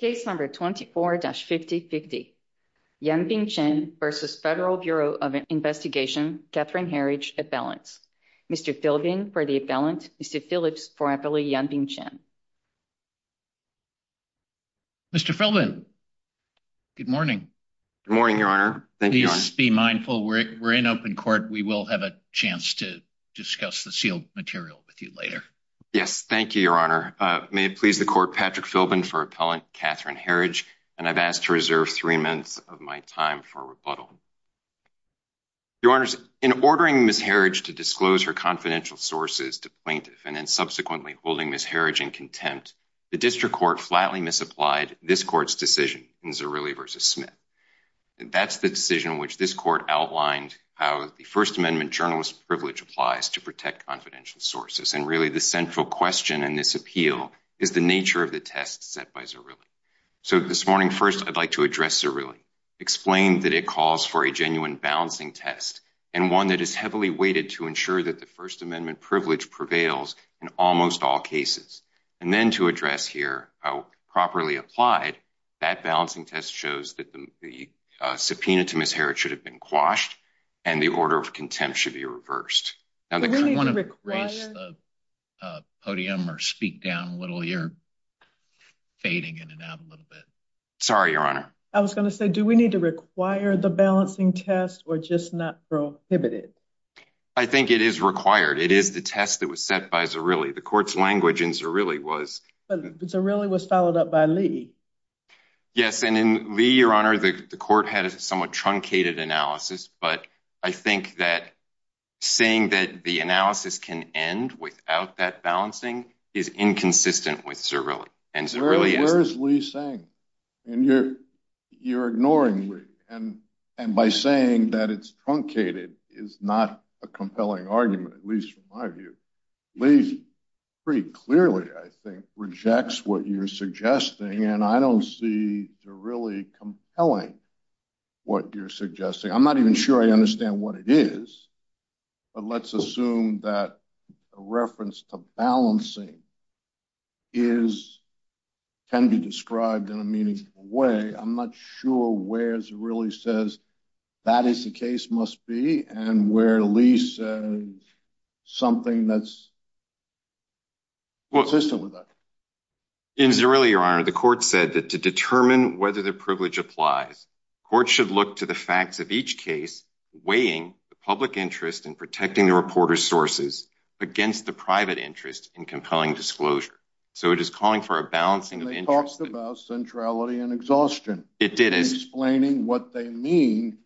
Case number 24-5050, Yanping Chen v. Federal Bureau of Investigation, Catherine Herridge, appellants. Mr. Philbin for the appellant, Mr. Phillips for appellate Yanping Chen. Mr. Philbin, good morning. Good morning, Your Honor. Please be mindful we're in open court. We will have a chance to discuss the sealed material with you later. Yes, thank you, Your Honor. I'm Philbin for appellant Catherine Herridge, and I've asked to reserve three minutes of my time for rebuttal. Your Honor, in ordering Ms. Herridge to disclose her confidential sources to plaintiffs and then subsequently holding Ms. Herridge in contempt, the district court flatly misapplied this court's decision in Zerilli v. Smith. That's the decision which this court outlined how the First Amendment journalist privilege applies to protect confidential sources, and really the central question in this appeal is the nature of the test set by Zerilli. So this morning, first, I'd like to address Zerilli, explain that it calls for a genuine balancing test and one that is heavily weighted to ensure that the First Amendment privilege prevails in almost all cases, and then to address here how properly applied that balancing test shows that the subpoena to Ms. Herridge should have been quashed and the order of contempt should be reversed. I want to raise the podium or speak down a little. You're fading in and out a little bit. Sorry, Your Honor. I was going to say, do we need to require the balancing test or just not prohibit it? I think it is required. It is the test that was set by Zerilli. The court's language in Zerilli was... But Zerilli was followed up by Lee. Yes, and in Lee, Your Honor, the court had a truncated analysis, but I think that saying that the analysis can end without that balancing is inconsistent with Zerilli. Zerilli, where is Lee saying? You're ignoring Lee, and by saying that it's truncated is not a compelling argument, at least from my view. Lee pretty clearly, I think, you're suggesting. I'm not even sure I understand what it is, but let's assume that a reference to balancing can be described in a meaningful way. I'm not sure where Zerilli says that is the case must be and where Lee says something that's consistent with that. In Zerilli, Your Honor, the court said that to determine whether the privilege applies, courts should look to the facts of each case, weighing the public interest in protecting the reporter's sources against the private interest in compelling disclosure. So it is calling for a balancing of interest. And they talked about centrality and exhaustion. It did. Explaining what they mean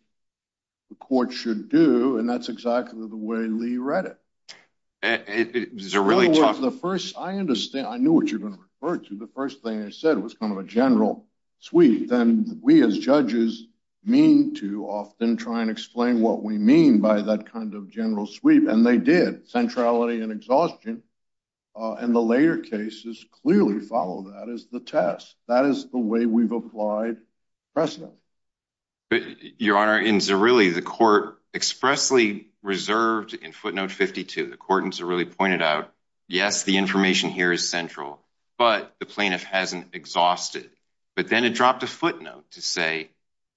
the court should do, and that's exactly the way Lee read it. It was a really tough. I understand. I knew what you were going to refer to. The first thing they said was kind of a general sweep. Then we as judges mean to often try and explain what we mean by that kind of general sweep, and they did. Centrality and exhaustion in the later cases clearly follow that as the test. That is the way we've applied precedent. Your Honor, in Zerilli the court expressly reserved in footnote 52, the court in Zerilli pointed out, yes, the information here is central, but the plaintiff hasn't exhausted. But then it dropped a footnote to say,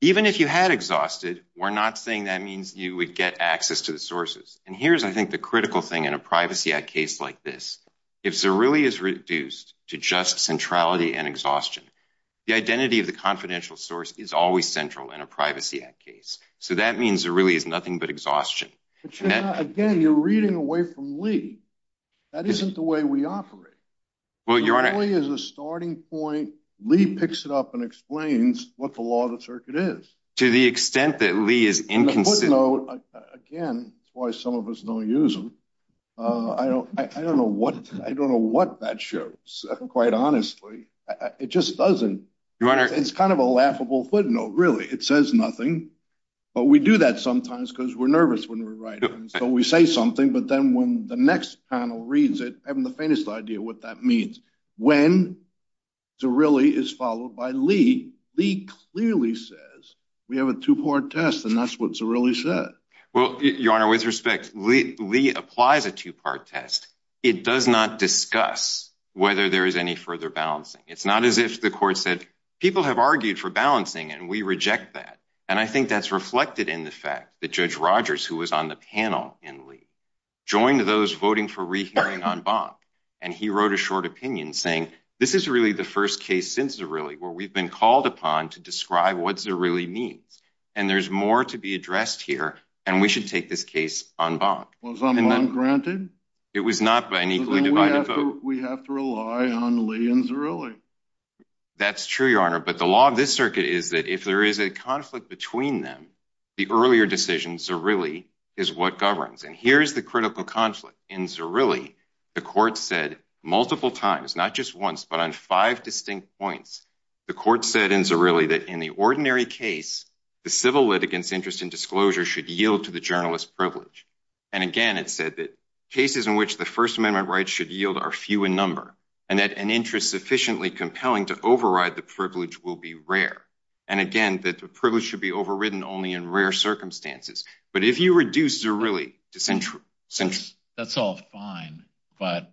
even if you had exhausted, we're not saying that means you would get access to the sources. And here's, I think, the critical thing in a Privacy Act case like this. If Zerilli is reduced to just centrality and exhaustion, the identity of the confidential source is always central in a Privacy Act case. So that means Zerilli is nothing but exhaustion. Again, you're reading away from Lee. That isn't the way we operate. Well, your Honor. Zerilli is a starting point. Lee picks it up and explains what the law of the circuit is. To the extent that Lee is inconsiderate. The footnote, again, that's why some of us don't use them. I don't know what that shows, quite honestly. It just doesn't. Your Honor. It's kind of a laughable footnote, really. It says nothing. But we do that sometimes because we're nervous when we're writing. So we say something, but then when the next panel reads it, having the faintest idea what that means. When Zerilli is followed by Lee, Lee clearly says, we have a two-part test, and that's what Zerilli said. Well, your Honor, with respect, Lee applies a two-part test. It does not discuss whether there is any further balancing. It's not as if the court said, people have argued for balancing, and we reject that. And I think that's reflected in the fact that Judge Rogers, who was on the panel in Lee, joined those voting for rehearing on Bonk. And he wrote a short opinion saying, this is really the first case since Zerilli where we've been called upon to describe what Zerilli means. And there's more to be addressed here, and we should take this case on Bonk. Was Bonk granted? It was not by an equally divided vote. We have to rely on Lee and Zerilli. That's true, Your Honor. But the law of this circuit is that if there is a conflict between them, the earlier decision, Zerilli is what governs. And here's the critical conflict. In Zerilli, the court said multiple times, not just once, but on five distinct points, the court said in Zerilli that in the ordinary case, the civil litigants' interest in disclosure should yield to the journalist's privilege. And again, it said that cases in which the First Amendment rights should yield are few in number, and that an interest sufficiently compelling to override the privilege will be rare. And again, that the privilege should be overridden only in rare circumstances. But if you reduce Zerilli to central... That's all fine, but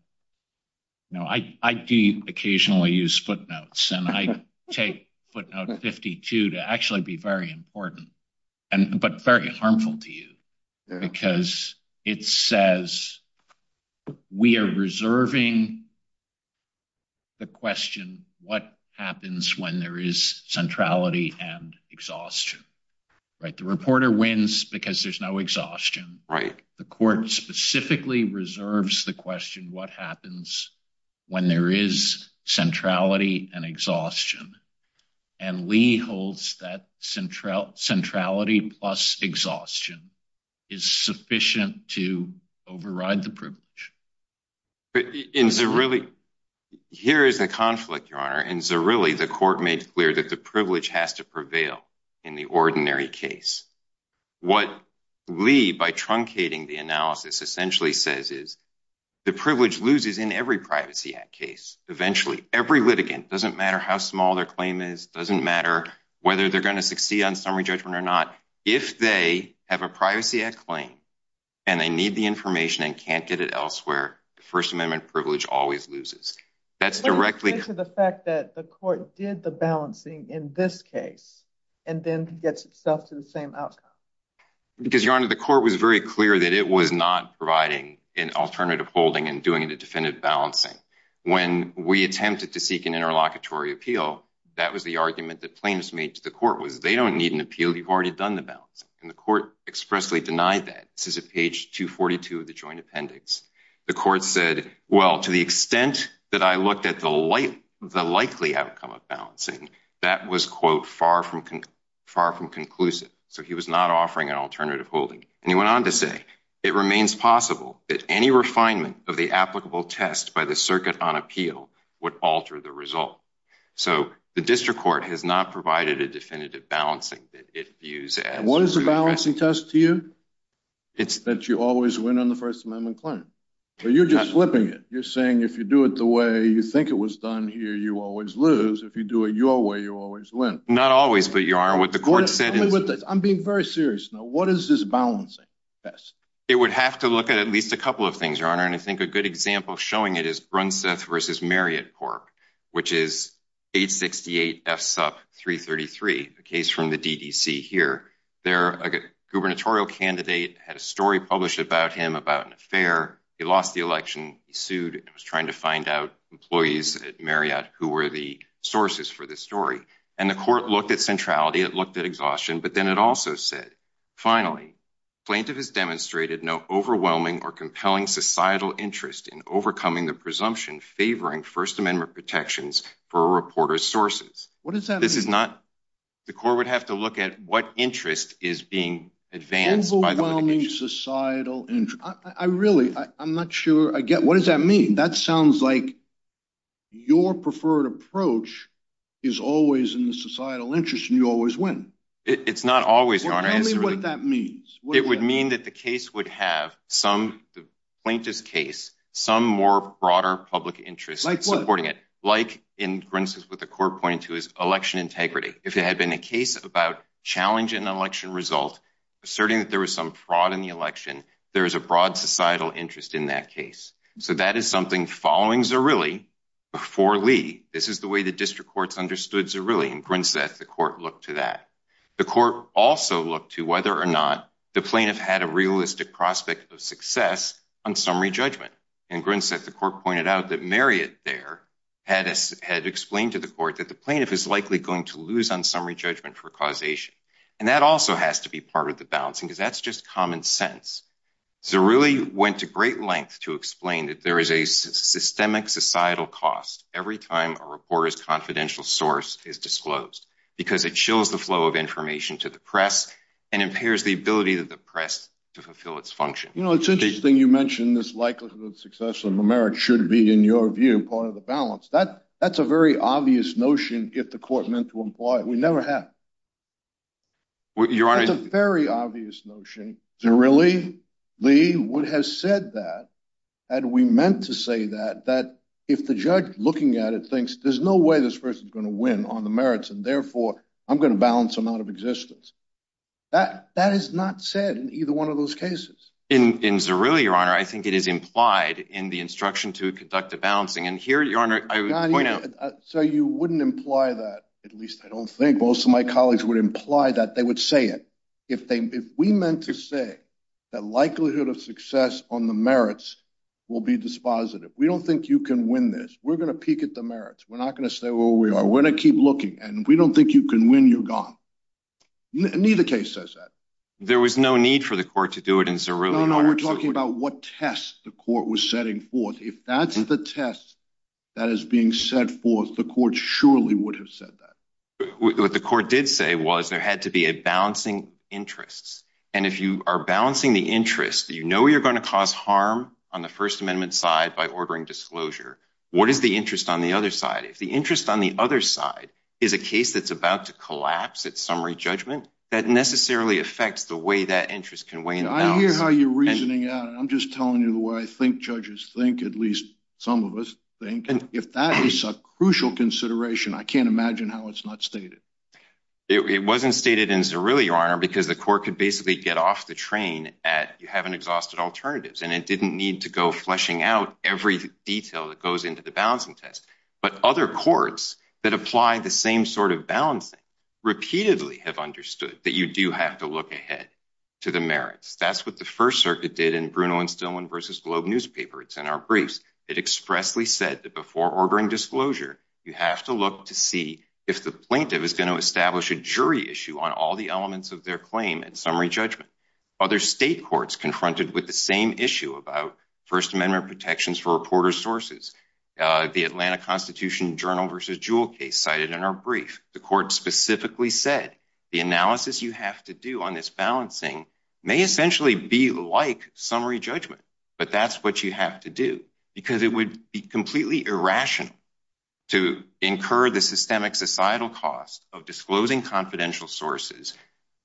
you know, I do occasionally use footnotes, and I take footnote 52 to actually be very important, but very harmful to you, because it says we are reserving the question, what happens when there is centrality and exhaustion, right? The reporter wins because there's no exhaustion. The court specifically reserves the question, what happens when there is centrality and exhaustion? And Lee holds that centrality plus exhaustion is sufficient to override the privilege. But in Zerilli, here is the conflict, Your Honor. In Zerilli, the court made clear that the privilege has to prevail in the ordinary case. What Lee, by truncating the analysis, essentially says is the privilege loses in every Privacy Act case. Eventually, every litigant, doesn't matter how small their claim is, doesn't matter whether they're going to succeed on summary judgment or not. If they have a Privacy Act claim, and they need the information and can't get it elsewhere, the First Amendment privilege always loses. That's directly... To the fact that the court did the balancing in this case, and then gets itself to the same outcome. Because Your Honor, the court was very clear that it was not providing an alternative holding and doing it a definitive balancing. When we attempted to seek an interlocutory appeal, that was the argument that plaintiffs made to the court, was they don't need an appeal, you've already done the balancing. And the court expressly denied that. This is at page 242 of the joint appendix. The court said, well, to the extent that I looked at the likely outcome of balancing, that was quote, far from conclusive. So he was not offering an alternative holding. And he went on to say, it remains possible that any refinement of the applicable test by the circuit on appeal would alter the result. So the district court has not provided a definitive balancing that it views as... And what is the balancing test to you? It's that you always win on the First Amendment claim. But you're just flipping it. You're saying if you do it the way you think it was done here, you always lose. If you do it your way, you always win. Not always, but Your Honor, what the court said is... I'm being very serious now. What is this balancing test? It would have to look at at least a couple of things, Your Honor. And I think a good example showing it is Brunseth versus Marriott Corp, which is 868 F SUP 333, a case from the DDC here. There, a gubernatorial candidate had a story published about him about an affair. He lost the election. He sued and was trying to find out employees at Marriott who were the sources for this story. And the court looked at centrality, it looked at exhaustion, but then it also said, finally, plaintiff has demonstrated no overwhelming or compelling societal interest in overcoming the presumption favoring First Amendment protections for a reporter's sources. What does that mean? This is not... The court would have to look at what interest is being advanced by the litigation. Overwhelming societal interest. I really, I'm not sure I get... What does that mean? That sounds like your preferred approach is always in the societal interest and you always win. It's not always, Your Honor. Tell me what that means. It would mean that the case would have some plaintiff's case, some more broader public interest supporting it. Like what? Like in Brunseth, what the court pointed to is election integrity. If it had been a case about challenging an election result, asserting that there was some fraud in the election, there is a broad societal interest in that case. So that is something following Zerilli before Lee. This is the way the district courts understood Zerilli in Brunseth, the court looked to that. The court also looked to whether or not the plaintiff had a realistic prospect of success on summary judgment. In Brunseth, the court pointed out that Marriott there had explained to the court that the plaintiff is likely going to lose on summary judgment for causation. And that also has to be part of the balancing because that's just common sense. Zerilli went to great length to explain that there is a systemic societal cost every time a confidential source is disclosed because it chills the flow of information to the press and impairs the ability of the press to fulfill its function. You know, it's interesting you mentioned this likelihood of success on the merit should be, in your view, part of the balance. That's a very obvious notion if the court meant to employ it. We never have. Your Honor. That's a very obvious notion. Zerilli, Lee, what has said that, that we meant to say that, that if the judge looking at it thinks there's no way this person is going to win on the merits and therefore I'm going to balance them out of existence. That is not said in either one of those cases. In Zerilli, Your Honor, I think it is implied in the instruction to conduct a balancing. And here, Your Honor, I would point out. So you wouldn't imply that, at least I don't think most of my colleagues would imply that would say it. If we meant to say that likelihood of success on the merits will be dispositive. We don't think you can win this. We're going to peek at the merits. We're not going to stay where we are. We're going to keep looking. And we don't think you can win. You're gone. Neither case says that. There was no need for the court to do it in Zerilli, Your Honor. No, no. We're talking about what test the court was setting forth. If that's the test that is being set forth, the court surely would have said that. What the court did say was there had to be a balancing interest. And if you are balancing the interest, you know you're going to cause harm on the First Amendment side by ordering disclosure. What is the interest on the other side? If the interest on the other side is a case that's about to collapse at summary judgment, that necessarily affects the way that interest can weigh in. I hear how you're reasoning out. I'm just telling you the way I think judges think, at least some of us think, if that is a crucial consideration, I can't imagine how it's not stated. It wasn't stated in Zerilli, Your Honor, because the court could basically get off the train at you haven't exhausted alternatives. And it didn't need to go fleshing out every detail that goes into the balancing test. But other courts that apply the same sort of balancing repeatedly have understood that you do have to look ahead to the merits. That's what the First Circuit did in Bruno and Stillman v. Globe newspaper. It's in our briefs. It expressly said that before ordering disclosure, you have to look to see if the plaintiff is going to establish a jury issue on all the elements of their claim at summary judgment. Other state courts confronted with the same issue about First Amendment protections for reporter sources. The Atlanta Constitution Journal v. Jewel case cited in our brief. The court specifically said the analysis you have to do on this balancing may essentially be like summary judgment, but that's what you have to do because it would be completely irrational to incur the systemic societal cost of disclosing confidential sources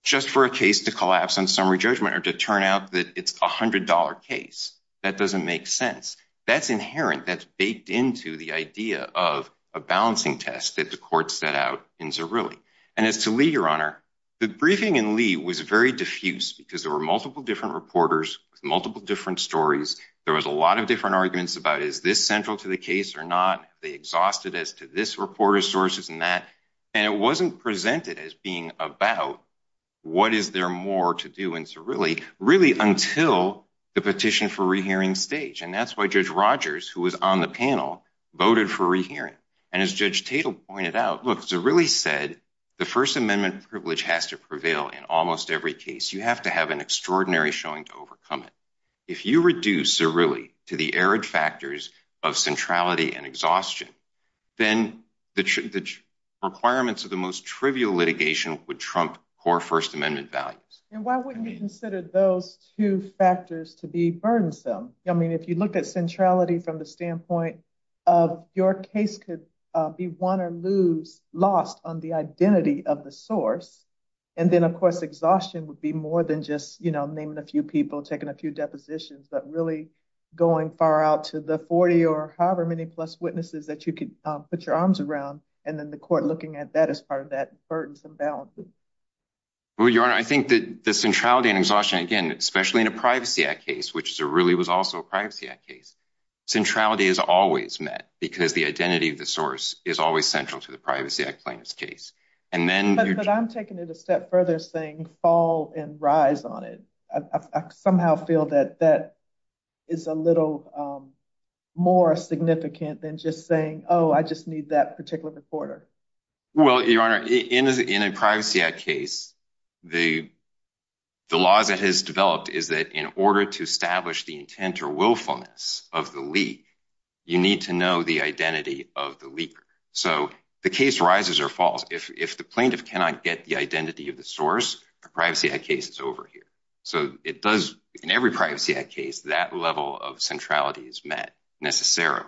just for a case to collapse on summary judgment or to turn out that it's a hundred dollar case. That doesn't make sense. That's inherent. That's baked into the idea of a balancing test that the court set out in Zirilli. And as to Lee, your honor, the briefing in Lee was very diffuse because there were multiple different reporters with multiple different stories. There was a lot of different arguments about is this central to the case or not. They exhausted as to this reporter sources and that. And it wasn't presented as being about what is there more to do in Zirilli, really until the petition for rehearing stage. And that's why Judge Rogers, who was on the panel, voted for rehearing. And as Judge Tatel pointed out, look, Zirilli said the First Amendment privilege has to prevail in almost every case. You have to have an extraordinary showing to overcome it. If you reduce Zirilli to the arid factors of centrality and exhaustion, then the requirements of the most trivial litigation would trump core First Amendment values. And why wouldn't you consider those two factors to be burdensome? I mean, if you look at centrality from the standpoint of your case could be won or lose, lost on the identity of the source. And then, of course, exhaustion would be more than just, you know, naming a few people, taking a few depositions, but really going far out to the 40 or however many plus witnesses that you could put your arms around. And then the court looking at that as part of that burdensome balance. Well, Your Honor, I think that the centrality and exhaustion, again, especially in a Privacy Act case, which Zirilli was also a Privacy Act case, centrality is always met because the identity of the source is always central to the Privacy Act plaintiff's case. But I'm taking it a step further saying fall and rise on it. I somehow feel that that is a little more significant than just oh, I just need that particular reporter. Well, Your Honor, in a Privacy Act case, the laws that has developed is that in order to establish the intent or willfulness of the leak, you need to know the identity of the leaker. So the case rises or falls. If the plaintiff cannot get the identity of the source, the Privacy Act case is over here. So it does in every Privacy Act case that level of centrality is met necessarily.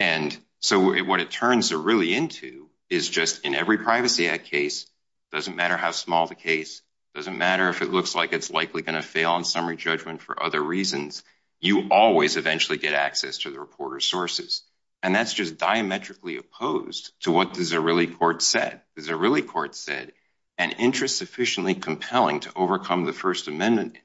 And so what it turns Zirilli into is just in every Privacy Act case, doesn't matter how small the case, doesn't matter if it looks like it's likely going to fail on summary judgment for other reasons, you always eventually get access to the reporter's sources. And that's just diametrically opposed to what the Zirilli court said. The Zirilli court said an interest sufficiently compelling to overcome the First Amendment.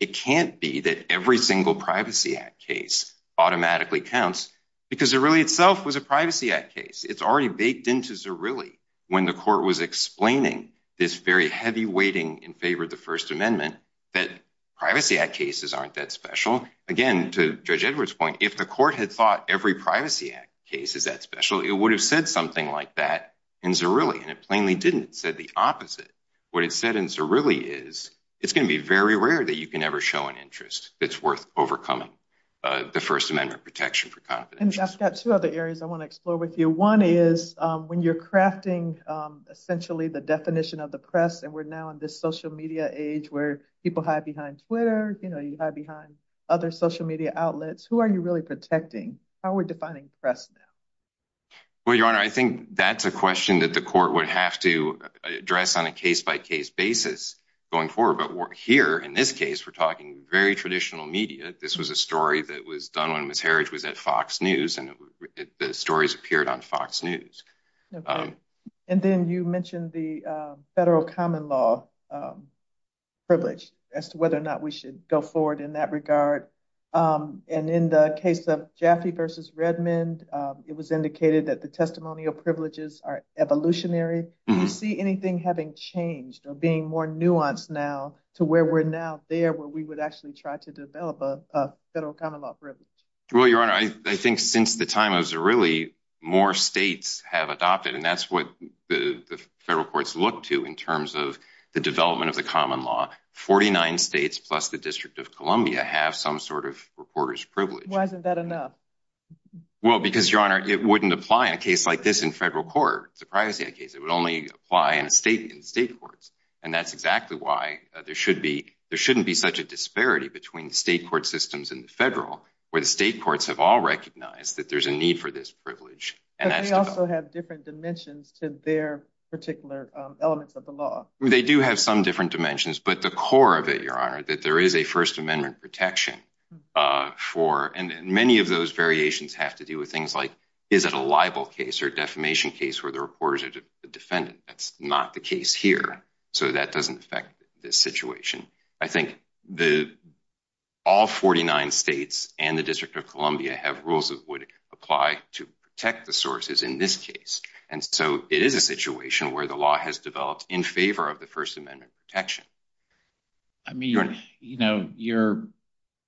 It can't be that every single Privacy Act case automatically counts because Zirilli itself was a Privacy Act case. It's already baked into Zirilli when the court was explaining this very heavy weighting in favor of the First Amendment that Privacy Act cases aren't that special. Again, to Judge Edwards' point, if the court had thought every Privacy Act case is that special, it would have said something like that in Zirilli. And it plainly didn't. It said the opposite. What it said in Zirilli is it's going to be very rare that you can ever show an interest that's worth overcoming the First Amendment protection for confidential. I've got two other areas I want to explore with you. One is when you're crafting essentially the definition of the press and we're now in this social media age where people hide behind Twitter, you know, you hide behind other social media outlets. Who are you really protecting? How are we defining press now? Well, Your Honor, I think that's a question that the court would have to address on a case-by-case basis going forward. But here, in this case, we're talking very traditional media. This was a story that was done when Ms. Herridge was at Fox News and the stories appeared on Fox News. And then you mentioned the federal common law privilege as to whether or not we should go forward in that regard. And in the case of Jaffe v. Redmond, it was indicated that the testimonial privileges are evolutionary. Do you see anything having changed or being more nuanced now to where we're now there where we would actually try to develop a federal common law privilege? Well, Your Honor, I think since the time of Zirilli, more states have adopted, and that's what the federal courts look to in terms of the development of the common law. Forty-nine states, plus the District of Columbia, have some sort of reporter's privilege. Why isn't that enough? Well, because, Your Honor, it wouldn't apply in a case like this in federal court, the privacy case. It would only apply in state courts. And that's exactly why there shouldn't be such a disparity between the state court systems and the federal, where the state courts have all recognized that there's a need for this privilege. But they also have different dimensions to their particular elements of the law. They do have some different dimensions, but the core of it, Your Honor, that there is a First Amendment protection for, and many of those variations have to do with things like, is it a libel case or defamation case where the reporters are the defendant? That's not the case here. So that doesn't affect this situation. I think all 49 states and the District of Columbia have rules that would apply to protect the sources in this case. And so it is a situation where the law has developed in favor of the First Amendment protection. I mean, Your Honor, you're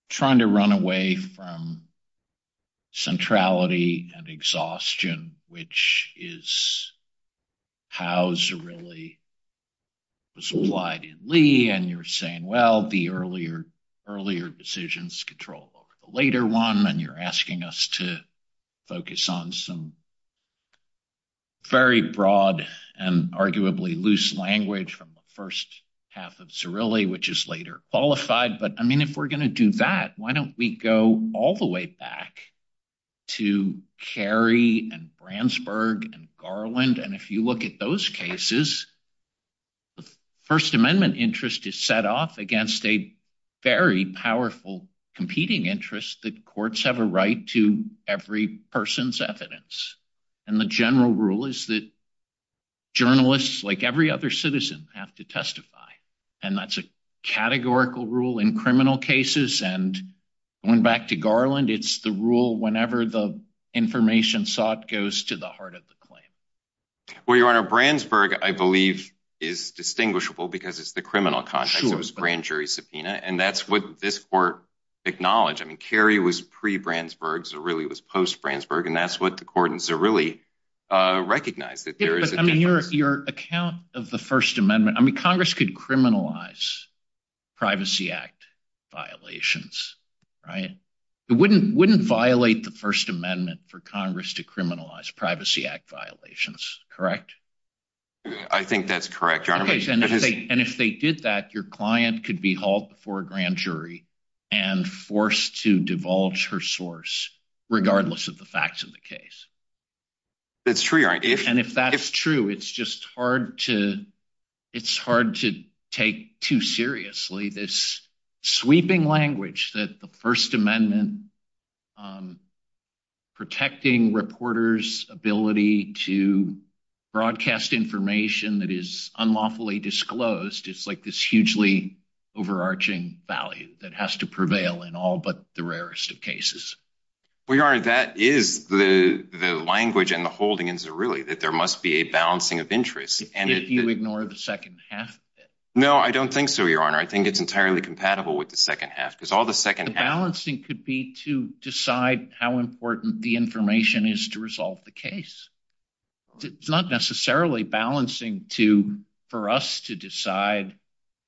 trying to run away from centrality and exhaustion, which is how Zerilli was applied in Lee. And you're saying, well, the earlier decisions control the later one. And you're asking us to focus on some very broad and arguably loose language from the first half of Zerilli, which is later qualified. But I mean, if we're going to do that, why don't we go all the way back to Cary and Brandsburg and Garland? And if you look at those cases, the First Amendment interest is set off against a very powerful competing interest that courts have a right to every person's evidence. And the general rule is that journalists, like every other citizen, have to testify. And that's a categorical rule in criminal cases. And going back to Garland, it's the rule whenever the information sought goes to the heart of the claim. Well, Your Honor, Brandsburg, I believe, is distinguishable because it's the criminal context. It was a grand jury subpoena. And that's what this court acknowledged. I mean, Cary was pre-Brandsburg. Zerilli was post-Brandsburg. And that's what the court in Zerilli recognized. I mean, your account of the First Amendment, I mean, Congress could criminalize Privacy Act violations, right? It wouldn't violate the First Amendment for Congress to criminalize Privacy Act violations, correct? I think that's correct, Your Honor. And if they did that, your client could be hauled before a grand jury and forced to divulge her source, regardless of the facts of the case. That's true, Your Honor. And if that's true, it's just hard to take too seriously this sweeping language that the First Amendment protecting reporters' ability to broadcast information that is unlawfully disclosed. It's like this hugely overarching value that has to prevail in all but the rarest of cases. Well, Your Honor, that is the language and the holding in Zerilli, that there must be a balancing of interests. If you ignore the second half of it. No, I don't think so, Your Honor. I think it's entirely compatible with the second half because all the second half... The balancing could be to decide how important the information is to resolve the case. It's not necessarily balancing to, for us to decide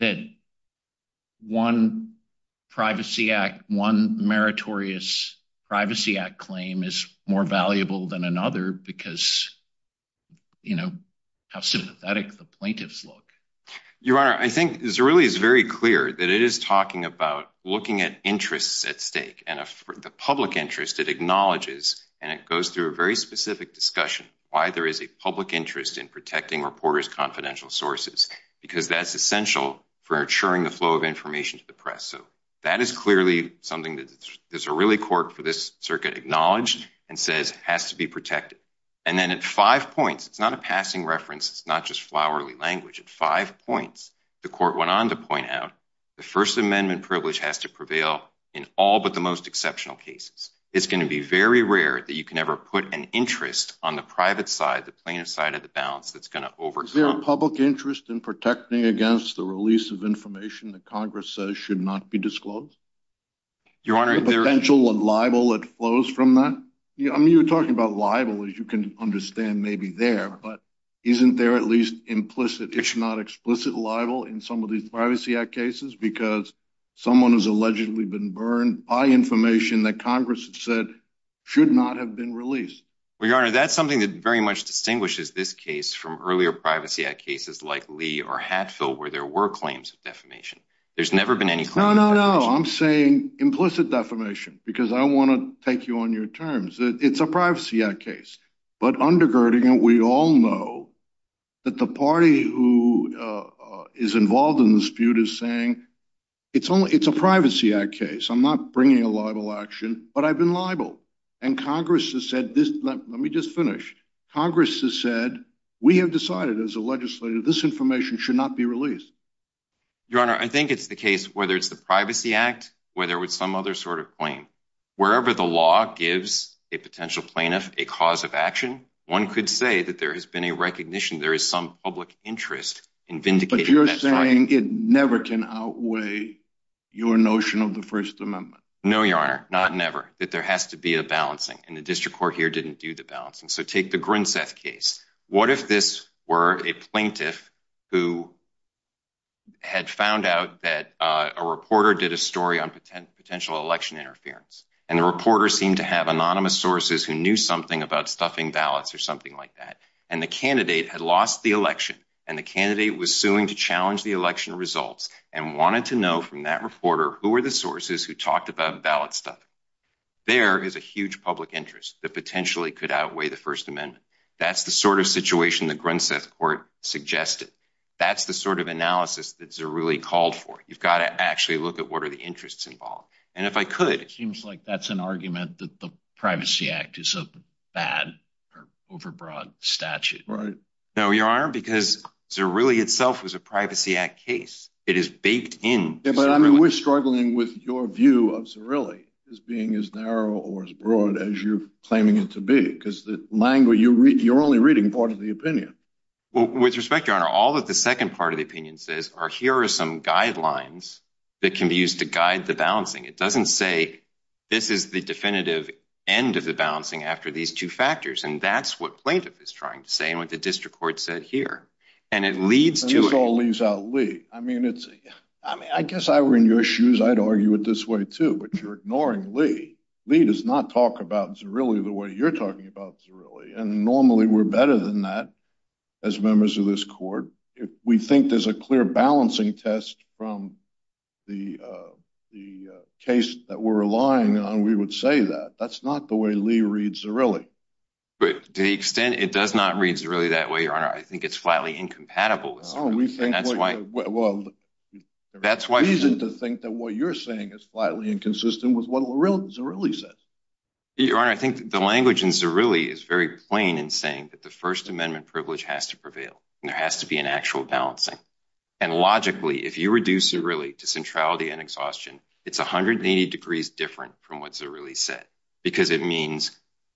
that one Privacy Act, one meritorious Privacy Act claim is more valuable than another because, you know, how sympathetic the plaintiffs look. Your Honor, I think Zerilli is very clear that it is talking about looking at interests at stake and the public interest it acknowledges. And it goes through a very specific discussion, why there is a public interest in protecting reporters' confidential sources, because that's essential for ensuring the flow of information to the press. So that is clearly something that there's a really court for this circuit acknowledged and says has to be protected. And then at five points, it's not a passing reference, it's not just flowery language. At five points, the court went on to point out the First Amendment privilege has to prevail in all but the most exceptional cases. It's going to be very rare that you can ever put an interest on the private side, the plaintiff's side of the balance that's going to overcome... Is there a public interest in protecting against the release of information that Congress says should not be disclosed? Your Honor... Is there a potential libel that flows from that? I mean, you're talking about libel, as you can understand, maybe there, but isn't there at least implicit, if not explicit, libel in some of these Privacy Act cases because someone has allegedly been burned by information that Congress said should not have been released? Well, Your Honor, that's something that very much distinguishes this case from earlier Privacy Act cases like Lee or Hatfield, where there were claims of defamation. There's never been any... No, no, no. I'm saying implicit defamation because I want to take you on your terms. It's a Privacy Act case, but undergirding it, we all know that the party who is involved in the dispute is saying, it's a Privacy Act case. I'm not bringing a libel action, but I've been libel. And Congress has said this... Let me just finish. Congress has said, we have decided as a legislator, this information should not be released. Your Honor, I think it's the case, whether it's the Privacy Act, whether it's some other sort of claim, wherever the law gives a potential plaintiff a cause of action, one could say that there has been a recognition, there is some public interest in vindicating... But you're saying it never can outweigh your notion of the First Amendment. No, Your Honor, not never, that there has to be a balancing, and the District Court here didn't do the balancing. So take the Grinseth case. What if this were a plaintiff who had found out that a reporter did a story on potential election interference, and the reporter seemed to have anonymous sources who knew something about stuffing ballots or something like that, and the candidate had lost the election, and the candidate was suing to challenge the election results and wanted to know from that reporter who were the sources who talked about ballot stuffing. There is a huge public interest that potentially could outweigh the First Amendment. That's the sort of situation the Grinseth Court suggested. That's the sort of analysis that Zerouli called for. You've got to actually look at what are the interests involved. And if I could... It seems like that's an argument that the Privacy Act is a bad or overbroad statute. Right. No, Your Honor, because Zerouli itself was a Privacy Act case. It is in Zerouli. Yeah, but we're struggling with your view of Zerouli as being as narrow or as broad as you're claiming it to be, because you're only reading part of the opinion. Well, with respect, Your Honor, all that the second part of the opinion says are here are some guidelines that can be used to guide the balancing. It doesn't say this is the definitive end of the balancing after these two factors, and that's what plaintiff is trying to say and what the District Court said here. And it leads to... This all leaves out Lee. I mean, I guess if I were in your shoes, I'd argue it this way too, but you're ignoring Lee. Lee does not talk about Zerouli the way you're talking about Zerouli, and normally we're better than that as members of this Court. If we think there's a clear balancing test from the case that we're relying on, we would say that. That's not the way Lee reads Zerouli. To the extent it does not read Zerouli that way, I think it's flatly incompatible with Zerouli, and that's why... Well, the reason to think that what you're saying is flatly inconsistent was what Zerouli said. Your Honor, I think the language in Zerouli is very plain in saying that the First Amendment privilege has to prevail, and there has to be an actual balancing. And logically, if you reduce Zerouli to centrality and exhaustion, it's 180 degrees different from what Zerouli said, because it means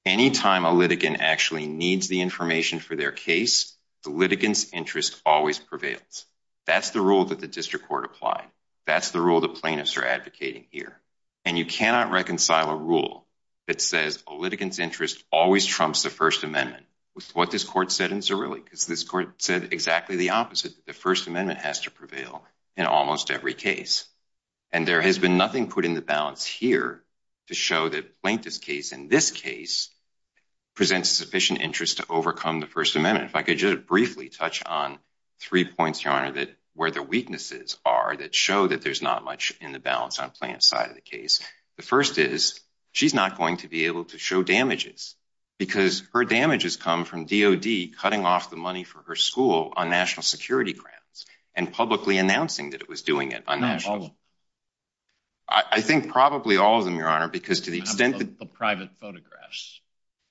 anytime a litigant actually needs the information for their case, the litigant's interest always prevails. That's the rule that the District Court applied. That's the rule the plaintiffs are advocating here. And you cannot reconcile a rule that says a litigant's interest always trumps the First Amendment with what this Court said in Zerouli, because this Court said exactly the opposite. The First Amendment has to prevail in almost every case. And there has been nothing put in the balance here to show that the plaintiff's case in this case presents sufficient interest to overcome the First Amendment. If I could just briefly touch on three points, Your Honor, where the weaknesses are that show that there's not much in the balance on the plaintiff's side of the case. The first is, she's not going to be able to show damages, because her damages come from DOD cutting off money for her school on national security grants, and publicly announcing that it was doing it. I think probably all of them, Your Honor, because to the extent that— The private photographs.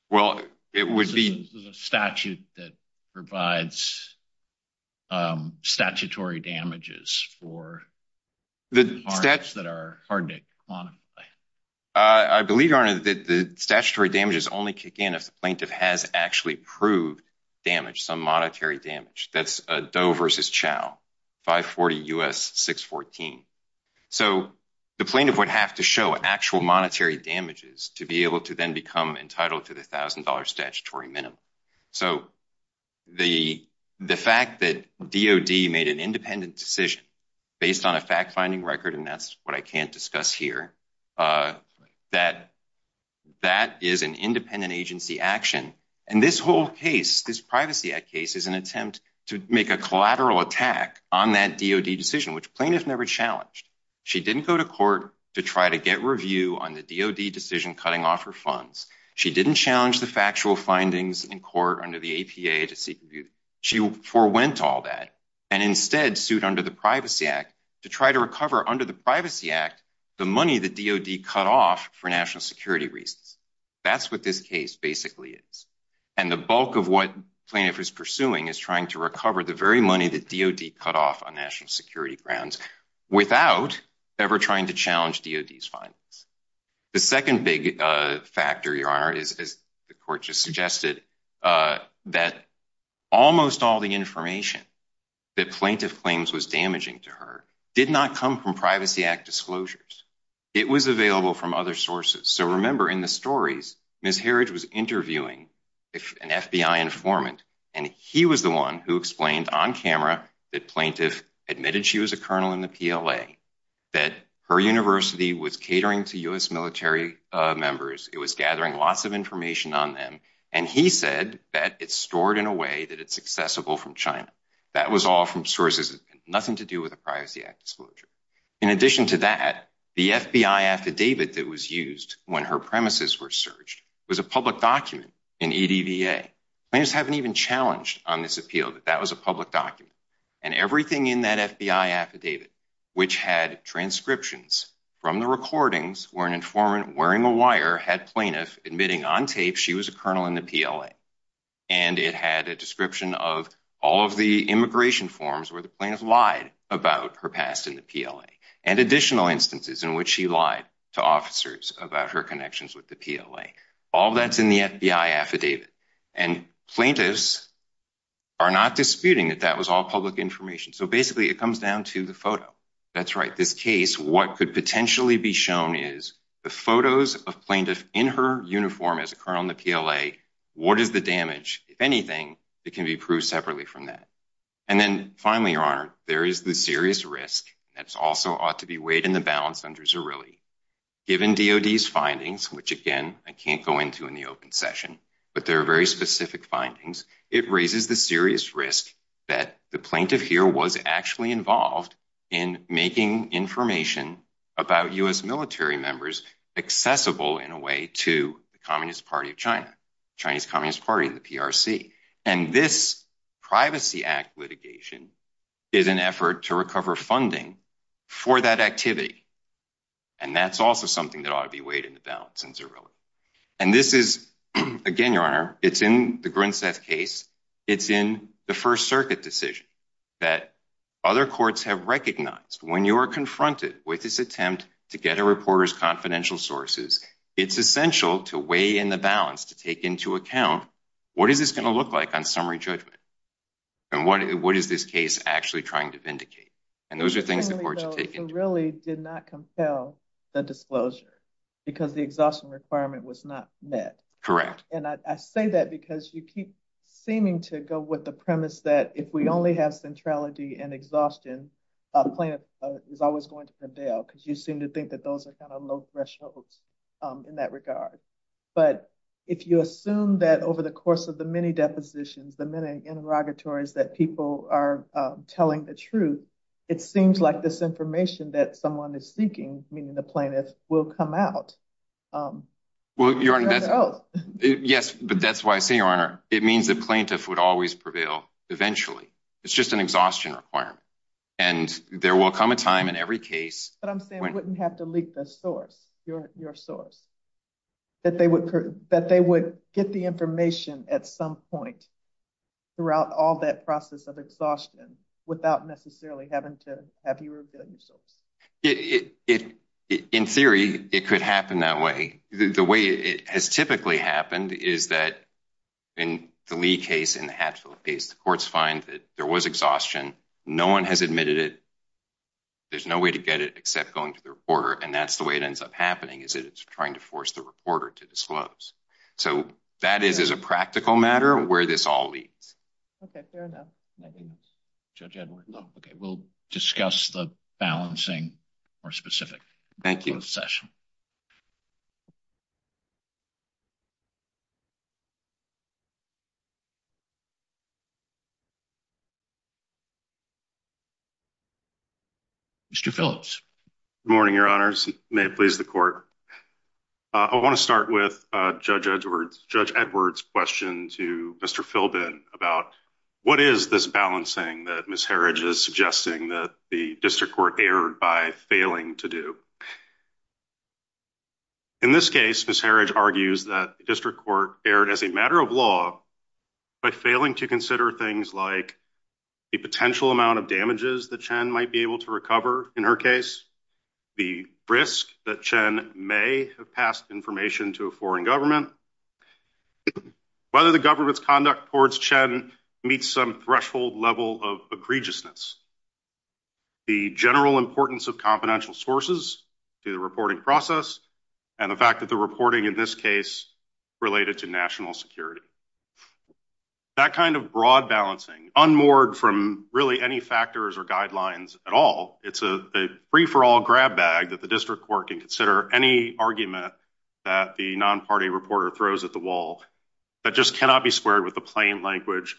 Well, it would be— There's a statute that provides statutory damages for the parties that are hard to quantify. I believe, Your Honor, that the statutory damages only kick in if the plaintiff has actually proved damage, some monetary damage. That's Doe versus Chau, 540 U.S. 614. So the plaintiff would have to show actual monetary damages to be able to then become entitled to the $1,000 statutory minimum. So the fact that DOD made an independent decision based on a fact-finding record, and that's what I can't discuss here, that that is an independent agency action. And this whole case, this Privacy Act case, is an attempt to make a collateral attack on that DOD decision, which plaintiff never challenged. She didn't go to court to try to get review on the DOD decision cutting off her funds. She didn't challenge the factual findings in court under the APA to seek review. She forewent all that, and instead sued under the Privacy Act to try to recover under the Privacy Act the money that DOD cut off for national security reasons. That's what this case basically is. And the bulk of what plaintiff is pursuing is trying to recover the very money that DOD cut off on national security grounds without ever trying to challenge DOD's findings. The second big factor, Your Honor, is, as the court just suggested, that almost all the information that plaintiff claims was damaging to her did not come from Privacy Act disclosures. It was available from other sources. So, remember, in the stories, Ms. Harridge was interviewing an FBI informant, and he was the one who explained on camera that plaintiff admitted she was a colonel in the PLA, that her university was catering to U.S. military members, it was gathering lots of information on them, and he said that it's stored in a way that it's accessible from China. That was all from sources that had nothing to do with a Privacy Act disclosure. In addition to that, the FBI affidavit that was used when her premises were searched was a public document in EDVA. Plaintiffs haven't even challenged on this appeal that that was a public document. And everything in that FBI affidavit, which had transcriptions from the recordings where an informant wearing a wire had plaintiff admitting on tape she was a colonel in the PLA, and it had a description of all of the immigration forms where the plaintiff lied about her past in the PLA, and additional instances in which she lied to officers about her connections with the PLA. All that's in the FBI affidavit, and plaintiffs are not disputing that that was all public information. So, basically, it comes down to the photo. That's right. This case, what could potentially be shown is the photos of plaintiff in her uniform as a colonel in the PLA What is the damage? If anything, it can be proved separately from that. And then, finally, Your Honor, there is the serious risk that also ought to be weighed in the balance under Zerilli. Given DOD's findings, which again, I can't go into in the open session, but there are very specific findings, it raises the serious risk that the plaintiff here was actually involved in making information about U.S. military members accessible in a way to the Communist Party of China. Chinese Communist Party, the PRC. And this Privacy Act litigation is an effort to recover funding for that activity. And that's also something that ought to be weighed in the balance in Zerilli. And this is, again, Your Honor, it's in the Grinstead case. It's in the First Circuit decision that other courts have recognized when you are confronted with this attempt to get a reporter's confidential sources. It's essential to weigh in the balance, to take into account, what is this going to look like on summary judgment? And what is this case actually trying to vindicate? And those are things that courts are taking. It really did not compel the disclosure because the exhaustion requirement was not met. Correct. And I say that because you keep seeming to go with the premise that if we only have centrality and exhaustion, a plaintiff is always going to the threshold in that regard. But if you assume that over the course of the many depositions, the many interrogatories that people are telling the truth, it seems like this information that someone is seeking, meaning the plaintiff, will come out. Yes, but that's why I say, Your Honor, it means the plaintiff would always prevail eventually. It's just an exhaustion requirement. And there will come a time in every case. But I'm saying we wouldn't have to leak the source, your source, that they would get the information at some point throughout all that process of exhaustion without necessarily having to have you reveal your source. In theory, it could happen that way. The way it has typically happened is that in the Lee case, in the Hatfield case, courts find that there was exhaustion. No one has admitted it. There's no way to get it except going to the reporter. And that's the way it ends up happening, is that it's trying to force the reporter to disclose. So that is as a practical matter where this all leads. Okay, fair enough. Judge Edward. Okay, we'll discuss the balancing more specifically. Thank you. Mr. Phillips. Good morning, Your Honors. May it please the court. I want to start with Judge Edward's question to Mr. Philbin about what is this balancing that Ms. Herridge is suggesting that the district court erred by failing to do. In this case, Ms. Herridge argues that the district court erred as a matter of law by failing to consider things like the potential amount of damages that Chen might be able to recover in her case, the risk that Chen may have passed information to a foreign government, whether the government's conduct towards Chen meets some threshold level of egregiousness, the general importance of confidential sources to the national security. That kind of broad balancing, unmoored from really any factors or guidelines at all, it's a free-for-all grab bag that the district court can consider any argument that the non-party reporter throws at the wall that just cannot be squared with the plain language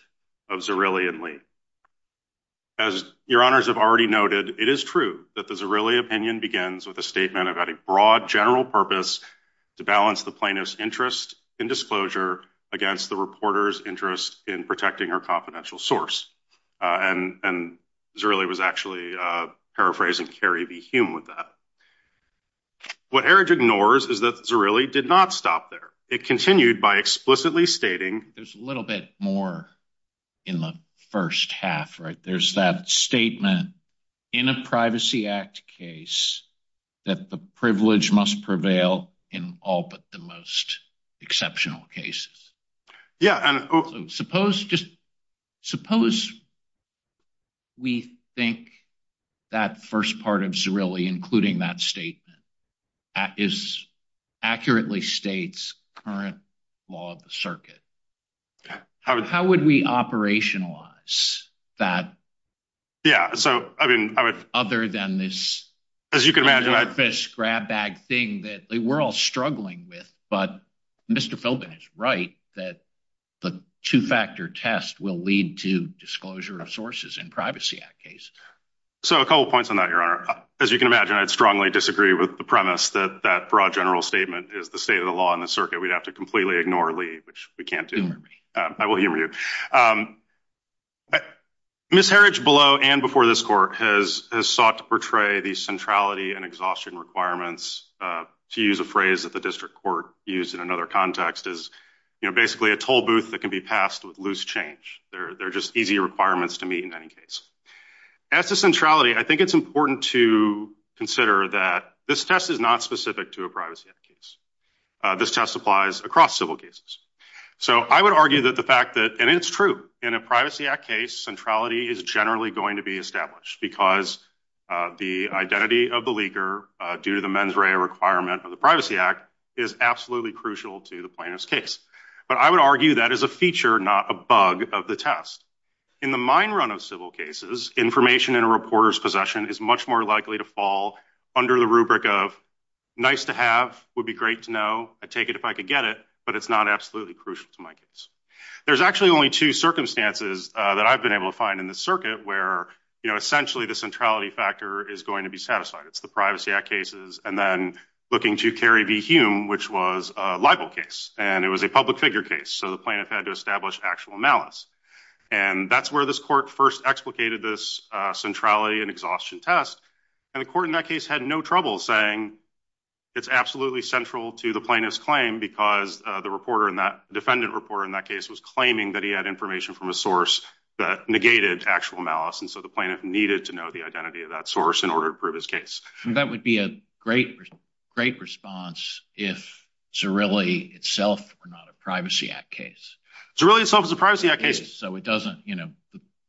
of Zerilli and Lee. As Your Honors have already noted, it is true that the Zerilli opinion begins with a statement about a broad general purpose to balance the plaintiff's interest in disclosure against the reporter's interest in protecting her confidential source. And Zerilli was actually paraphrasing Carrie V. Hume with that. What Herridge ignores is that Zerilli did not stop there. It continued by explicitly stating... There's a little bit more in the first half, right? There's that statement in a Privacy Act case that the privilege must prevail in all but the most exceptional cases. Yeah. And suppose we think that first part of Zerilli, including that statement, is accurately states current law of the circuit. How would we operationalize that? Yeah. So, I mean, I would... Other than this... As you can imagine...... surface grab bag thing that we're all struggling with. But Mr. Philbin is right that the two-factor test will lead to disclosure of sources in Privacy Act case. So a couple points on that, Your Honor. As you can imagine, I'd strongly disagree with the premise that that broad general statement is the state of the law in the circuit. We'd have to completely ignore Lee, which we can't do. I will humor you. Ms. Herridge below and before this court has sought to portray the centrality and exhaustion requirements, to use a phrase that the district court used in another context, is basically a toll booth that can be passed with loose change. They're just easy requirements to meet in any case. As to centrality, I think it's important to consider that this test is not specific to a Privacy Act case. This test applies across civil cases. So I would argue that the fact that, and it's true, in a Privacy Act case, centrality is generally going to be established because the identity of the leaker, due to the mens rea requirement of the Privacy Act, is absolutely crucial to the plaintiff's case. But I would argue that is a feature, not a bug, of the test. In the mine run of civil cases, information in a reporter's is much more likely to fall under the rubric of, nice to have, would be great to know, I'd take it if I could get it, but it's not absolutely crucial to my case. There's actually only two circumstances that I've been able to find in this circuit where, you know, essentially the centrality factor is going to be satisfied. It's the Privacy Act cases and then looking to Carey v. Hume, which was a libel case. And it was a public figure case, so the plaintiff had to establish actual malice. And that's where this court first explicated this centrality and exhaustion test. And the court in that case had no trouble saying it's absolutely central to the plaintiff's claim because the reporter in that, defendant reporter in that case, was claiming that he had information from a source that negated actual malice. And so the plaintiff needed to know the identity of that source in order to prove his case. That would be a great response if Zirilli itself were not a Privacy Act case. Zirilli itself is a Privacy Act case. So it doesn't, you know.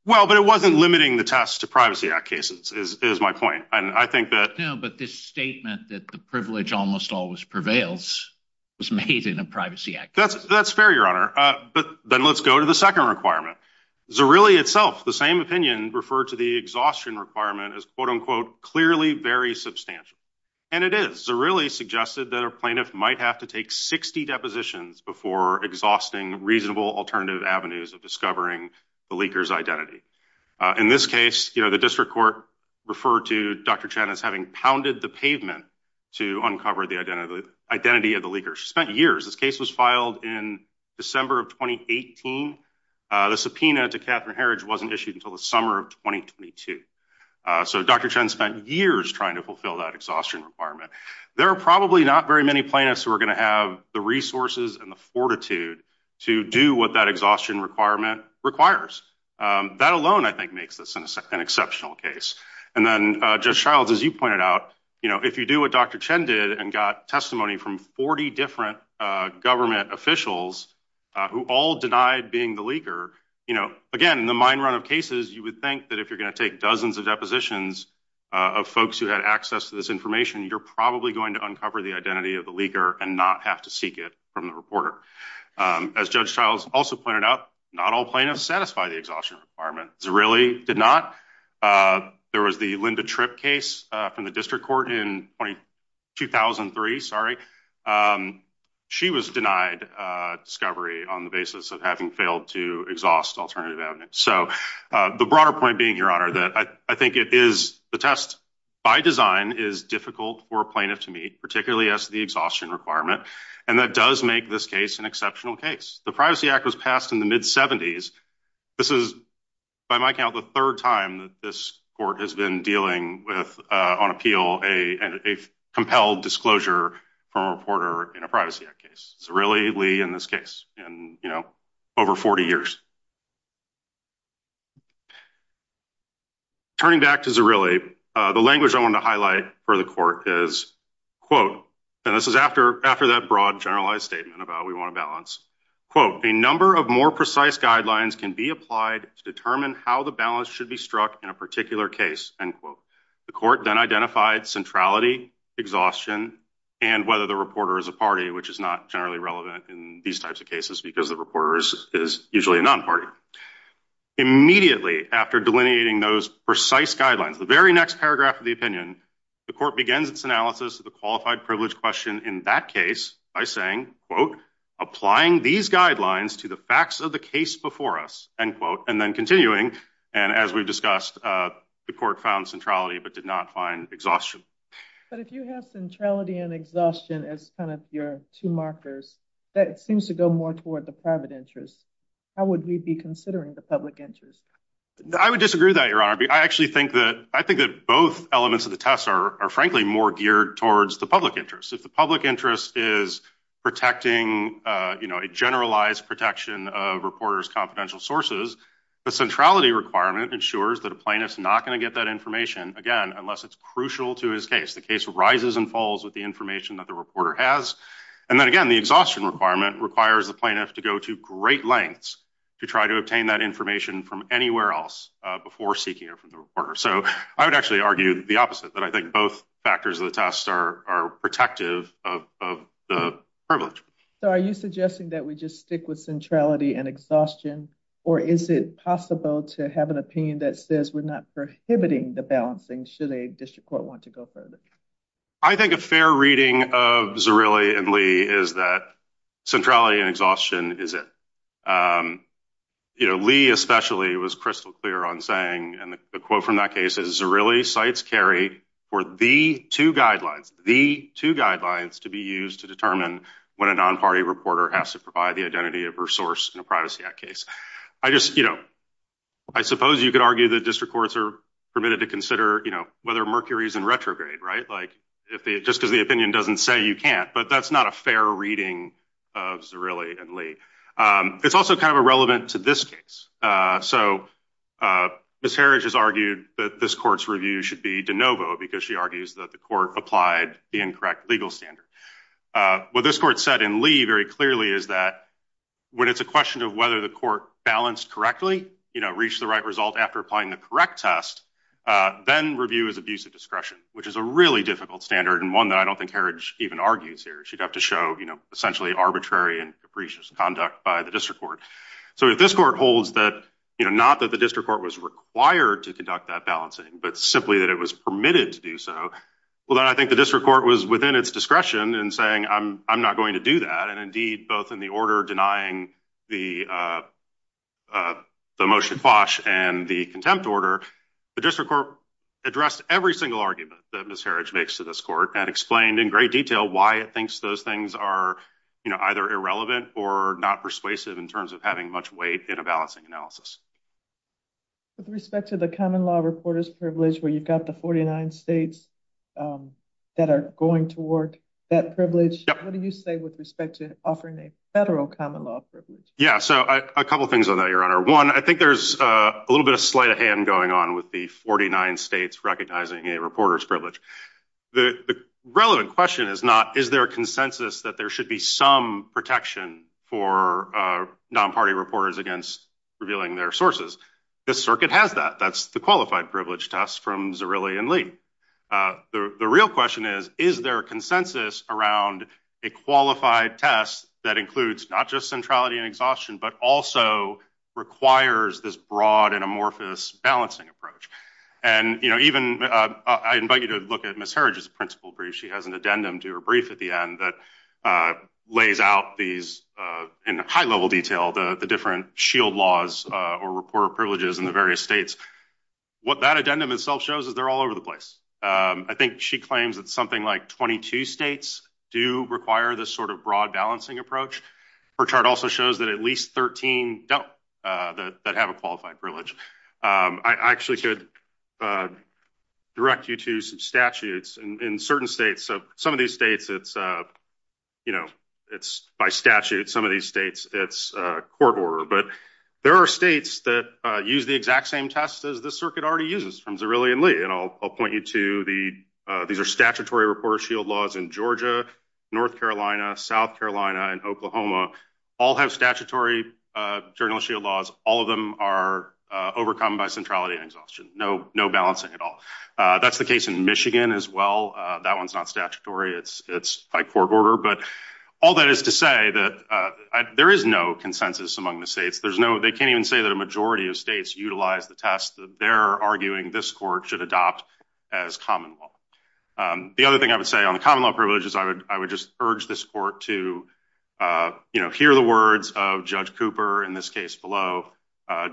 Well, but it wasn't limiting the test to Privacy Act cases, is my point. And I think that. No, but this statement that the privilege almost always prevails was made in a Privacy Act case. That's fair, Your Honor. But then let's go to the second requirement. Zirilli itself, the same opinion, referred to the exhaustion requirement as, quote unquote, clearly very substantial. And it is. Zirilli suggested that a plaintiff might have to take 60 depositions before exhausting reasonable alternative avenues of discovering the leaker's identity. In this case, you know, the district court referred to Dr. Chen as having pounded the pavement to uncover the identity of the leaker. She spent years. This case was filed in December of 2018. The subpoena to Catherine Herridge wasn't issued until the summer of 2022. So Dr. Chen spent years trying to fulfill that exhaustion requirement. There are probably not very many plaintiffs who are going to have the resources and the fortitude to do what that exhaustion requirement requires. That alone, I think, makes this an exceptional case. And then Judge Shiles, as you pointed out, you know, if you do what Dr. Chen did and got testimony from 40 different government officials who all denied being the leaker, you know, again, in the mine run of cases, you would think that if you're going to take dozens of depositions of folks who had access to this information, you're probably going to uncover the identity of the leaker and not have to seek it from the reporter. As Judge Shiles also pointed out, not all plaintiffs satisfy the exhaustion requirement. Zerilli did not. There was the Linda Tripp case from the district court in 2003, sorry. She was denied discovery on the basis of having failed to exhaust alternative avenues. So the broader point being, Your Honor, that I think the test, by design, is difficult for a plaintiff to meet, particularly as to the exhaustion requirement. And that does make this case an exceptional case. The Privacy Act was passed in the mid-70s. This is, by my count, the third time that this court has been dealing with, on appeal, a compelled disclosure from a reporter in a Privacy Act case. Zerilli Lee in this case in, you know, over 40 years. Turning back to Zerilli, the language I wanted to highlight for the court is, quote, and this is after that broad, generalized statement about we want to balance, quote, a number of more precise guidelines can be applied to determine how the balance should be struck in a particular case, end quote. The court then identified centrality, exhaustion, and whether the reporter is a party, which is not generally relevant in these types of cases because the reporter is usually a non-party. Immediately after delineating those precise guidelines, the very next paragraph of the opinion, the court begins its analysis of the qualified privilege question in that case by saying, quote, applying these guidelines to the facts of the case before us, end quote, and then continuing. And as we've discussed, the court found centrality but did not find exhaustion. But if you have centrality and exhaustion as kind of your two markers, that seems to go more toward the private interest. How would we be considering the public interest? I would disagree with that, Your Honor. I actually think that, I think that both elements of the test are frankly more geared towards the public interest. If the public interest is protecting, you know, a generalized protection of reporters' confidential sources, the centrality requirement ensures that a plaintiff's not going to get that information, again, unless it's crucial to his case. The case rises and falls with the information that the reporter has. And then again, the exhaustion requirement requires the plaintiff to go to great lengths to try to obtain that information from anywhere else before seeking it from the reporter. So I would actually argue the opposite, that I think both factors of the test are protective of the privilege. So are you suggesting that we just stick with centrality and exhaustion, or is it possible to have an opinion that says we're not prohibiting the balancing should a district court want to go further? I think a fair reading of Zirilli and Lee is that centrality and exhaustion is it. You know, Lee especially was crystal clear on saying, and the quote from that case is, Zirilli cites Kerry for the two guidelines, the two guidelines to be used to determine when a non-party reporter has to provide the identity of her source in a Privacy Act case. I just, you know, I suppose you could argue that district courts are permitted to consider, you know, whether Mercury is in retrograde, right? Like, just because the opinion doesn't say you can't, but that's not a fair reading of Zirilli and Lee. It's also kind of irrelevant to this case. So Ms. Harish has argued that this court's review should be de novo because she argues that the court applied the incorrect legal standard. What this court said in Lee very clearly is that when it's a question of whether the court balanced correctly, you know, reached the right result after applying the correct test, then review is abuse of discretion, which is a really difficult standard and one that I don't think Harish even argues here. She'd have to show, you know, essentially arbitrary and capricious conduct by the district court. So if this court holds that, you know, not that the district court was required to conduct that balancing, but simply that it was permitted to do so, well then I think the district court was within its discretion in saying I'm not going to do that. And indeed, both in the order denying the motion quash and the contempt order, the district court addressed every single argument that Ms. Harish makes to this court and explained in great detail why it thinks those things are, you know, either irrelevant or not persuasive in terms of having much weight in a balancing analysis. With respect to the common law reporters privilege where you've got the 49 states that are going toward that privilege, what do you say with respect to offering a federal common law privilege? Yeah, so a couple things on that, your honor. One, I think there's a little bit of sleight of hand going on with the 49 states recognizing a reporter's privilege. The relevant question is not is there a consensus that there should be some protection for non-party reporters against revealing their sources. The circuit has that. That's the qualified privilege test from Zerilli and Lee. The real question is, is there a consensus around a qualified test that includes not just centrality and exhaustion, but also requires this broad and amorphous balancing approach. And, you know, even I invite you to look at Ms. Harish's principle brief. She has an addendum to her brief at the end that lays out these in high-level detail the different shield laws or reporter privileges in the states. What that addendum itself shows is they're all over the place. I think she claims that something like 22 states do require this sort of broad balancing approach. Her chart also shows that at least 13 don't that have a qualified privilege. I actually could direct you to some statutes in certain states. So some of these states, it's, you know, it's by statute. Some of these states, it's court order. But there are states that use the exact same test as this circuit already uses from Zerilli and Lee. And I'll point you to the, these are statutory reporter shield laws in Georgia, North Carolina, South Carolina, and Oklahoma. All have statutory journal shield laws. All of them are overcome by centrality and exhaustion. No balancing at all. That's the case in Michigan as well. That one's not statutory. It's by court order. But all that is to say that there is no consensus among the states. There's no, they can't even say that a majority of states utilize the test that they're arguing this court should adopt as common law. The other thing I would say on the common law privileges, I would, I would just urge this court to, you know, hear the words of Judge Cooper in this case below,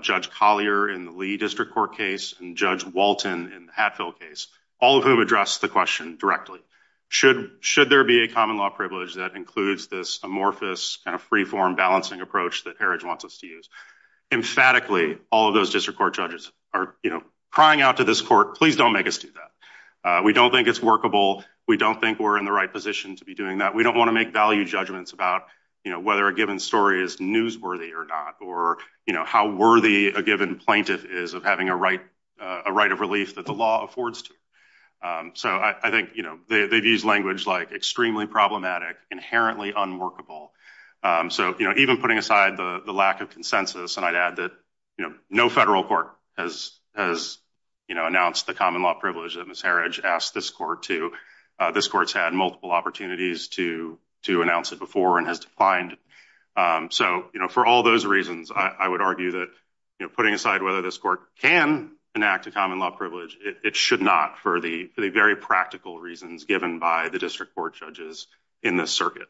Judge Collier in the Lee District Court case, and Judge Walton in the Hatfield case, all of whom addressed the question directly. Should, should there be a common law privilege that includes this amorphous kind of freeform balancing approach that Heritage wants us to use? Emphatically, all of those district court judges are, you know, crying out to this court, please don't make us do that. We don't think it's workable. We don't think we're in the right position to be doing that. We don't want to make value judgments about, you know, whether a given story is newsworthy or not, or, you know, how worthy a given plaintiff is of having a right, a right of relief that the law affords to. So I think, you they've used language like extremely problematic, inherently unworkable. So, you know, even putting aside the lack of consensus, and I'd add that, you know, no federal court has, has, you know, announced the common law privilege that Ms. Heritage asked this court to. This court's had multiple opportunities to, to announce it before and has declined. So, you know, for all those reasons, I would argue that, you know, putting aside whether this court can enact a common law privilege, it should not for the, for the very practical reasons given by the district court judges in this circuit.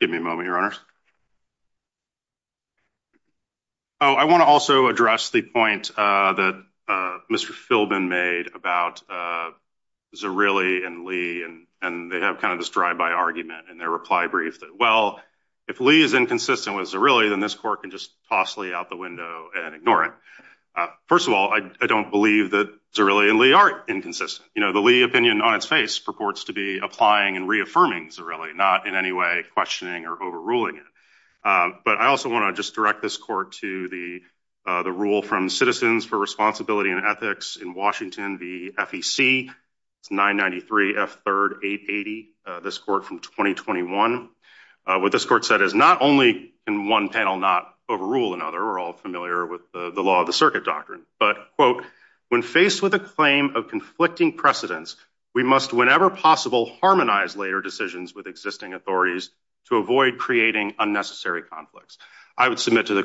Give me a moment, Your Honors. Oh, I want to also address the point that Mr. Philbin made about Zerilli and Lee, and they have kind of this drive-by argument in their reply brief that, well, if Lee is inconsistent with Zerilli, then this court can just toss Lee out the window and ignore it. First of all, I don't believe that Zerilli and Lee are inconsistent. You know, the Lee opinion on its face purports to be applying and reaffirming Zerilli, not in any way questioning or overruling it. But I also want to just direct this court to the, the rule from Citizens for Responsibility and Ethics in Washington, the FEC, it's 993 F3rd 880, this court from 2021. What this court said is not only can one panel not overrule another, we're all familiar with the law of the circuit doctrine, but, quote, when faced with a claim of conflicting precedents, we must whenever possible harmonize later decisions with existing authorities to avoid creating unnecessary conflicts. I would submit to the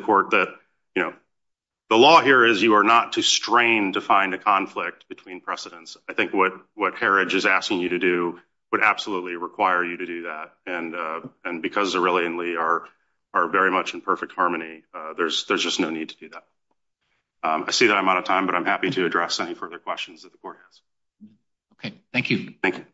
between precedents. I think what, what Herridge is asking you to do would absolutely require you to do that. And, and because Zerilli and Lee are, are very much in perfect harmony, there's, there's just no need to do that. I see that I'm out of time, but I'm happy to address any further questions that the court has. Okay. Thank you. Thank you.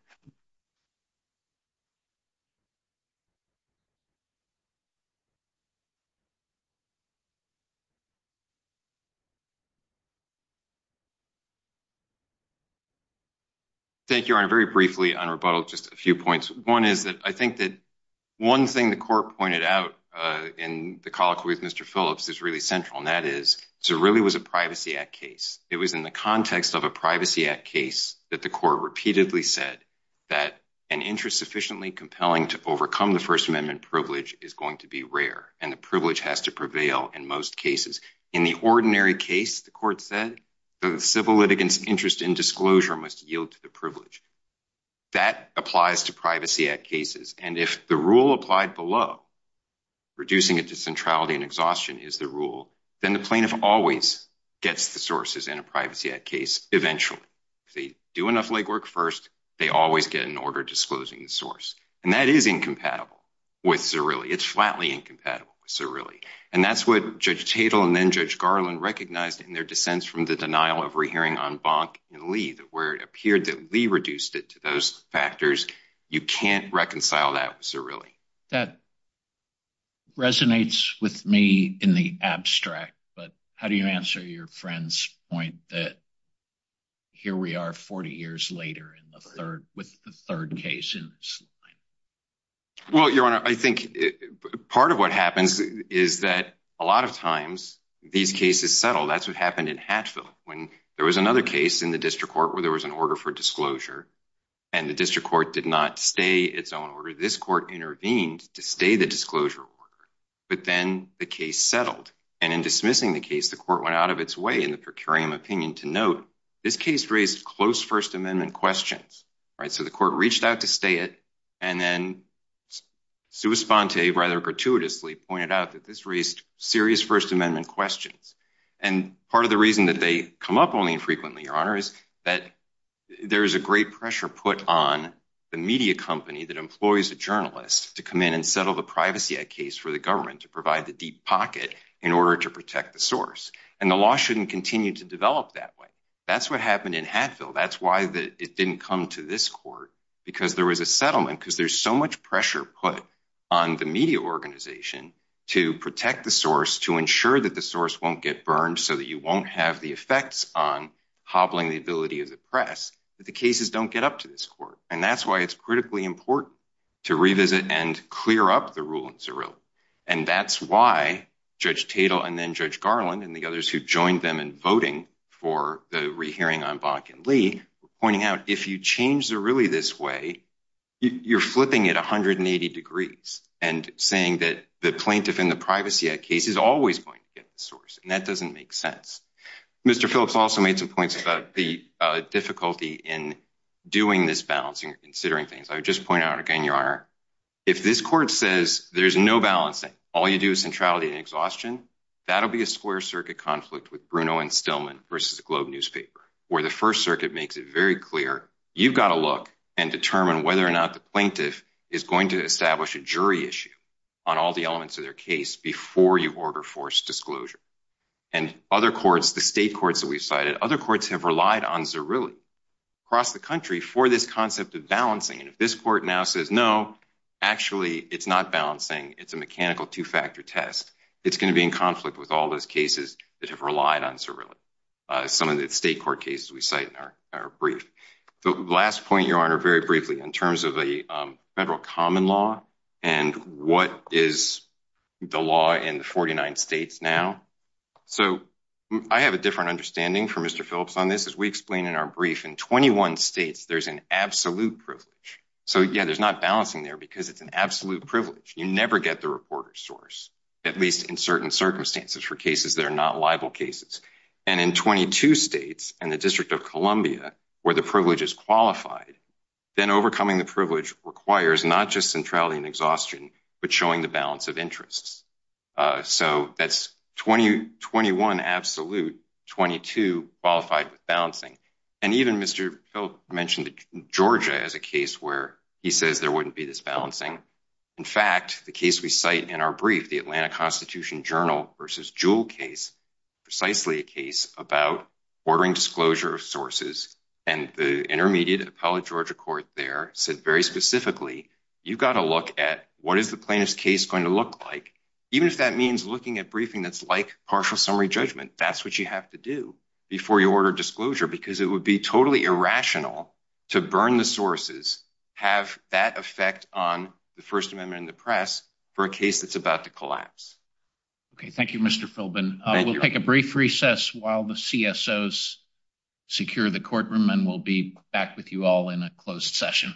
Thank you, Your Honor. Very briefly on rebuttal, just a few points. One is that I think that one thing the court pointed out in the colloquy with Mr. Phillips is really central, and that is Zerilli was a Privacy Act case. It was in the context of a Privacy Act case that the court repeatedly said that an interest sufficiently compelling to overcome the First Amendment privilege is going to be rare, and the privilege has to prevail in most cases. In the ordinary case, the court said, the civil litigant's interest in disclosure must yield to the privilege. That applies to Privacy Act cases, and if the rule applied below, reducing it to centrality and exhaustion is the rule, then the plaintiff always gets the sources in a Privacy Act case eventually. If they do enough legwork first, they always get an order disclosing the source, and that is incompatible with Zerilli. It's flatly incompatible with Zerilli, and that's what Judge Tatel and then Judge Garland recognized in their dissents from the denial of rehearing on Bonk and Lee, that where it appeared that Lee reduced it to those factors, you can't reconcile that with Zerilli. That resonates with me in the abstract, but how do you answer your friend's point that here we are 40 years later with the third case? Well, Your Honor, I think part of what happens is that a lot of times these cases settle. That's what happened in Hatfield when there was another case in the district court where there was an order for disclosure, and the district court did not stay its own order. This court intervened to stay the disclosure order, but then the case settled, and in dismissing the case, the court went out of its way in the per curiam opinion to note this case raised close First Amendment questions, right? So the court reached out to stay it, and then sua sponte, rather gratuitously, pointed out that this raised serious First Amendment questions, and part of the reason that they come up only infrequently, Your Honor, is that there is a great pressure put on the media company that employs a journalist to come in and settle the Privacy Act case for the government to provide the deep pocket in order to protect the source, and the law shouldn't continue to develop that way. That's what happened in Hatfield. That's why it didn't come to this court, because there was a settlement, because there's so much pressure put on the media organization to protect the source, to ensure that the source won't get burned so that you won't have the effects on hobbling the ability of the press, but the cases don't get up to this court, and that's why it's critically important to revisit and clear up the rule in Cirilla, and that's why Judge Tatel and then Judge Garland and the others who joined them in voting for the re-hearing on Bach and Lee were pointing out if you change the ruling this way, you're flipping it 180 degrees and saying that the plaintiff in the Privacy Act case is always going to get the source, and that doesn't make sense. Mr. Phillips also made some points about the difficulty in doing this balancing or considering things. I would just point out again, Your Honor, if this court says there's no balancing, all you do is centrality and exhaustion, that'll be a square circuit conflict with Bruno and Stillman versus a Globe newspaper, where the First Circuit makes it very clear you've got to look and determine whether or not the plaintiff is going to establish a jury issue on all the elements of their case before you order forced disclosure, and other courts, the state courts that we've cited, other courts have relied on Cirilla across the country for this concept of balancing, and if this court now says no, actually it's not balancing, it's a mechanical two-factor test, it's going to be in conflict with all those cases that have relied on Cirilla, some of the state court cases we cite in our brief. Last point, Your Honor, very briefly in terms of a federal common law and what is the law in the 49 states now. So I have a different understanding for Mr. Phillips on this, as we explain in our 21 states there's an absolute privilege, so yeah, there's not balancing there because it's an absolute privilege, you never get the reporter's source, at least in certain circumstances for cases that are not libel cases, and in 22 states and the District of Columbia where the privilege is qualified, then overcoming the privilege requires not just centrality and exhaustion, but showing the balance of interests. So that's 21 absolute, 22 qualified with balancing, and even Mr. Phillips mentioned Georgia as a case where he says there wouldn't be this balancing. In fact, the case we cite in our brief, the Atlanta Constitution Journal versus Jewell case, precisely a case about ordering disclosure of sources, and the intermediate appellate Georgia court there said very specifically, you've got to look at what is the plaintiff's case going to look like, even if that means looking at briefing that's like partial summary judgment, that's what you have to do before you order disclosure, because it would be totally irrational to burn the sources, have that effect on the First Amendment and the press, for a case that's about to collapse. Okay, thank you Mr. Philbin. We'll take a brief recess while the CSOs secure the courtroom, and we'll be back with you all in a closed session.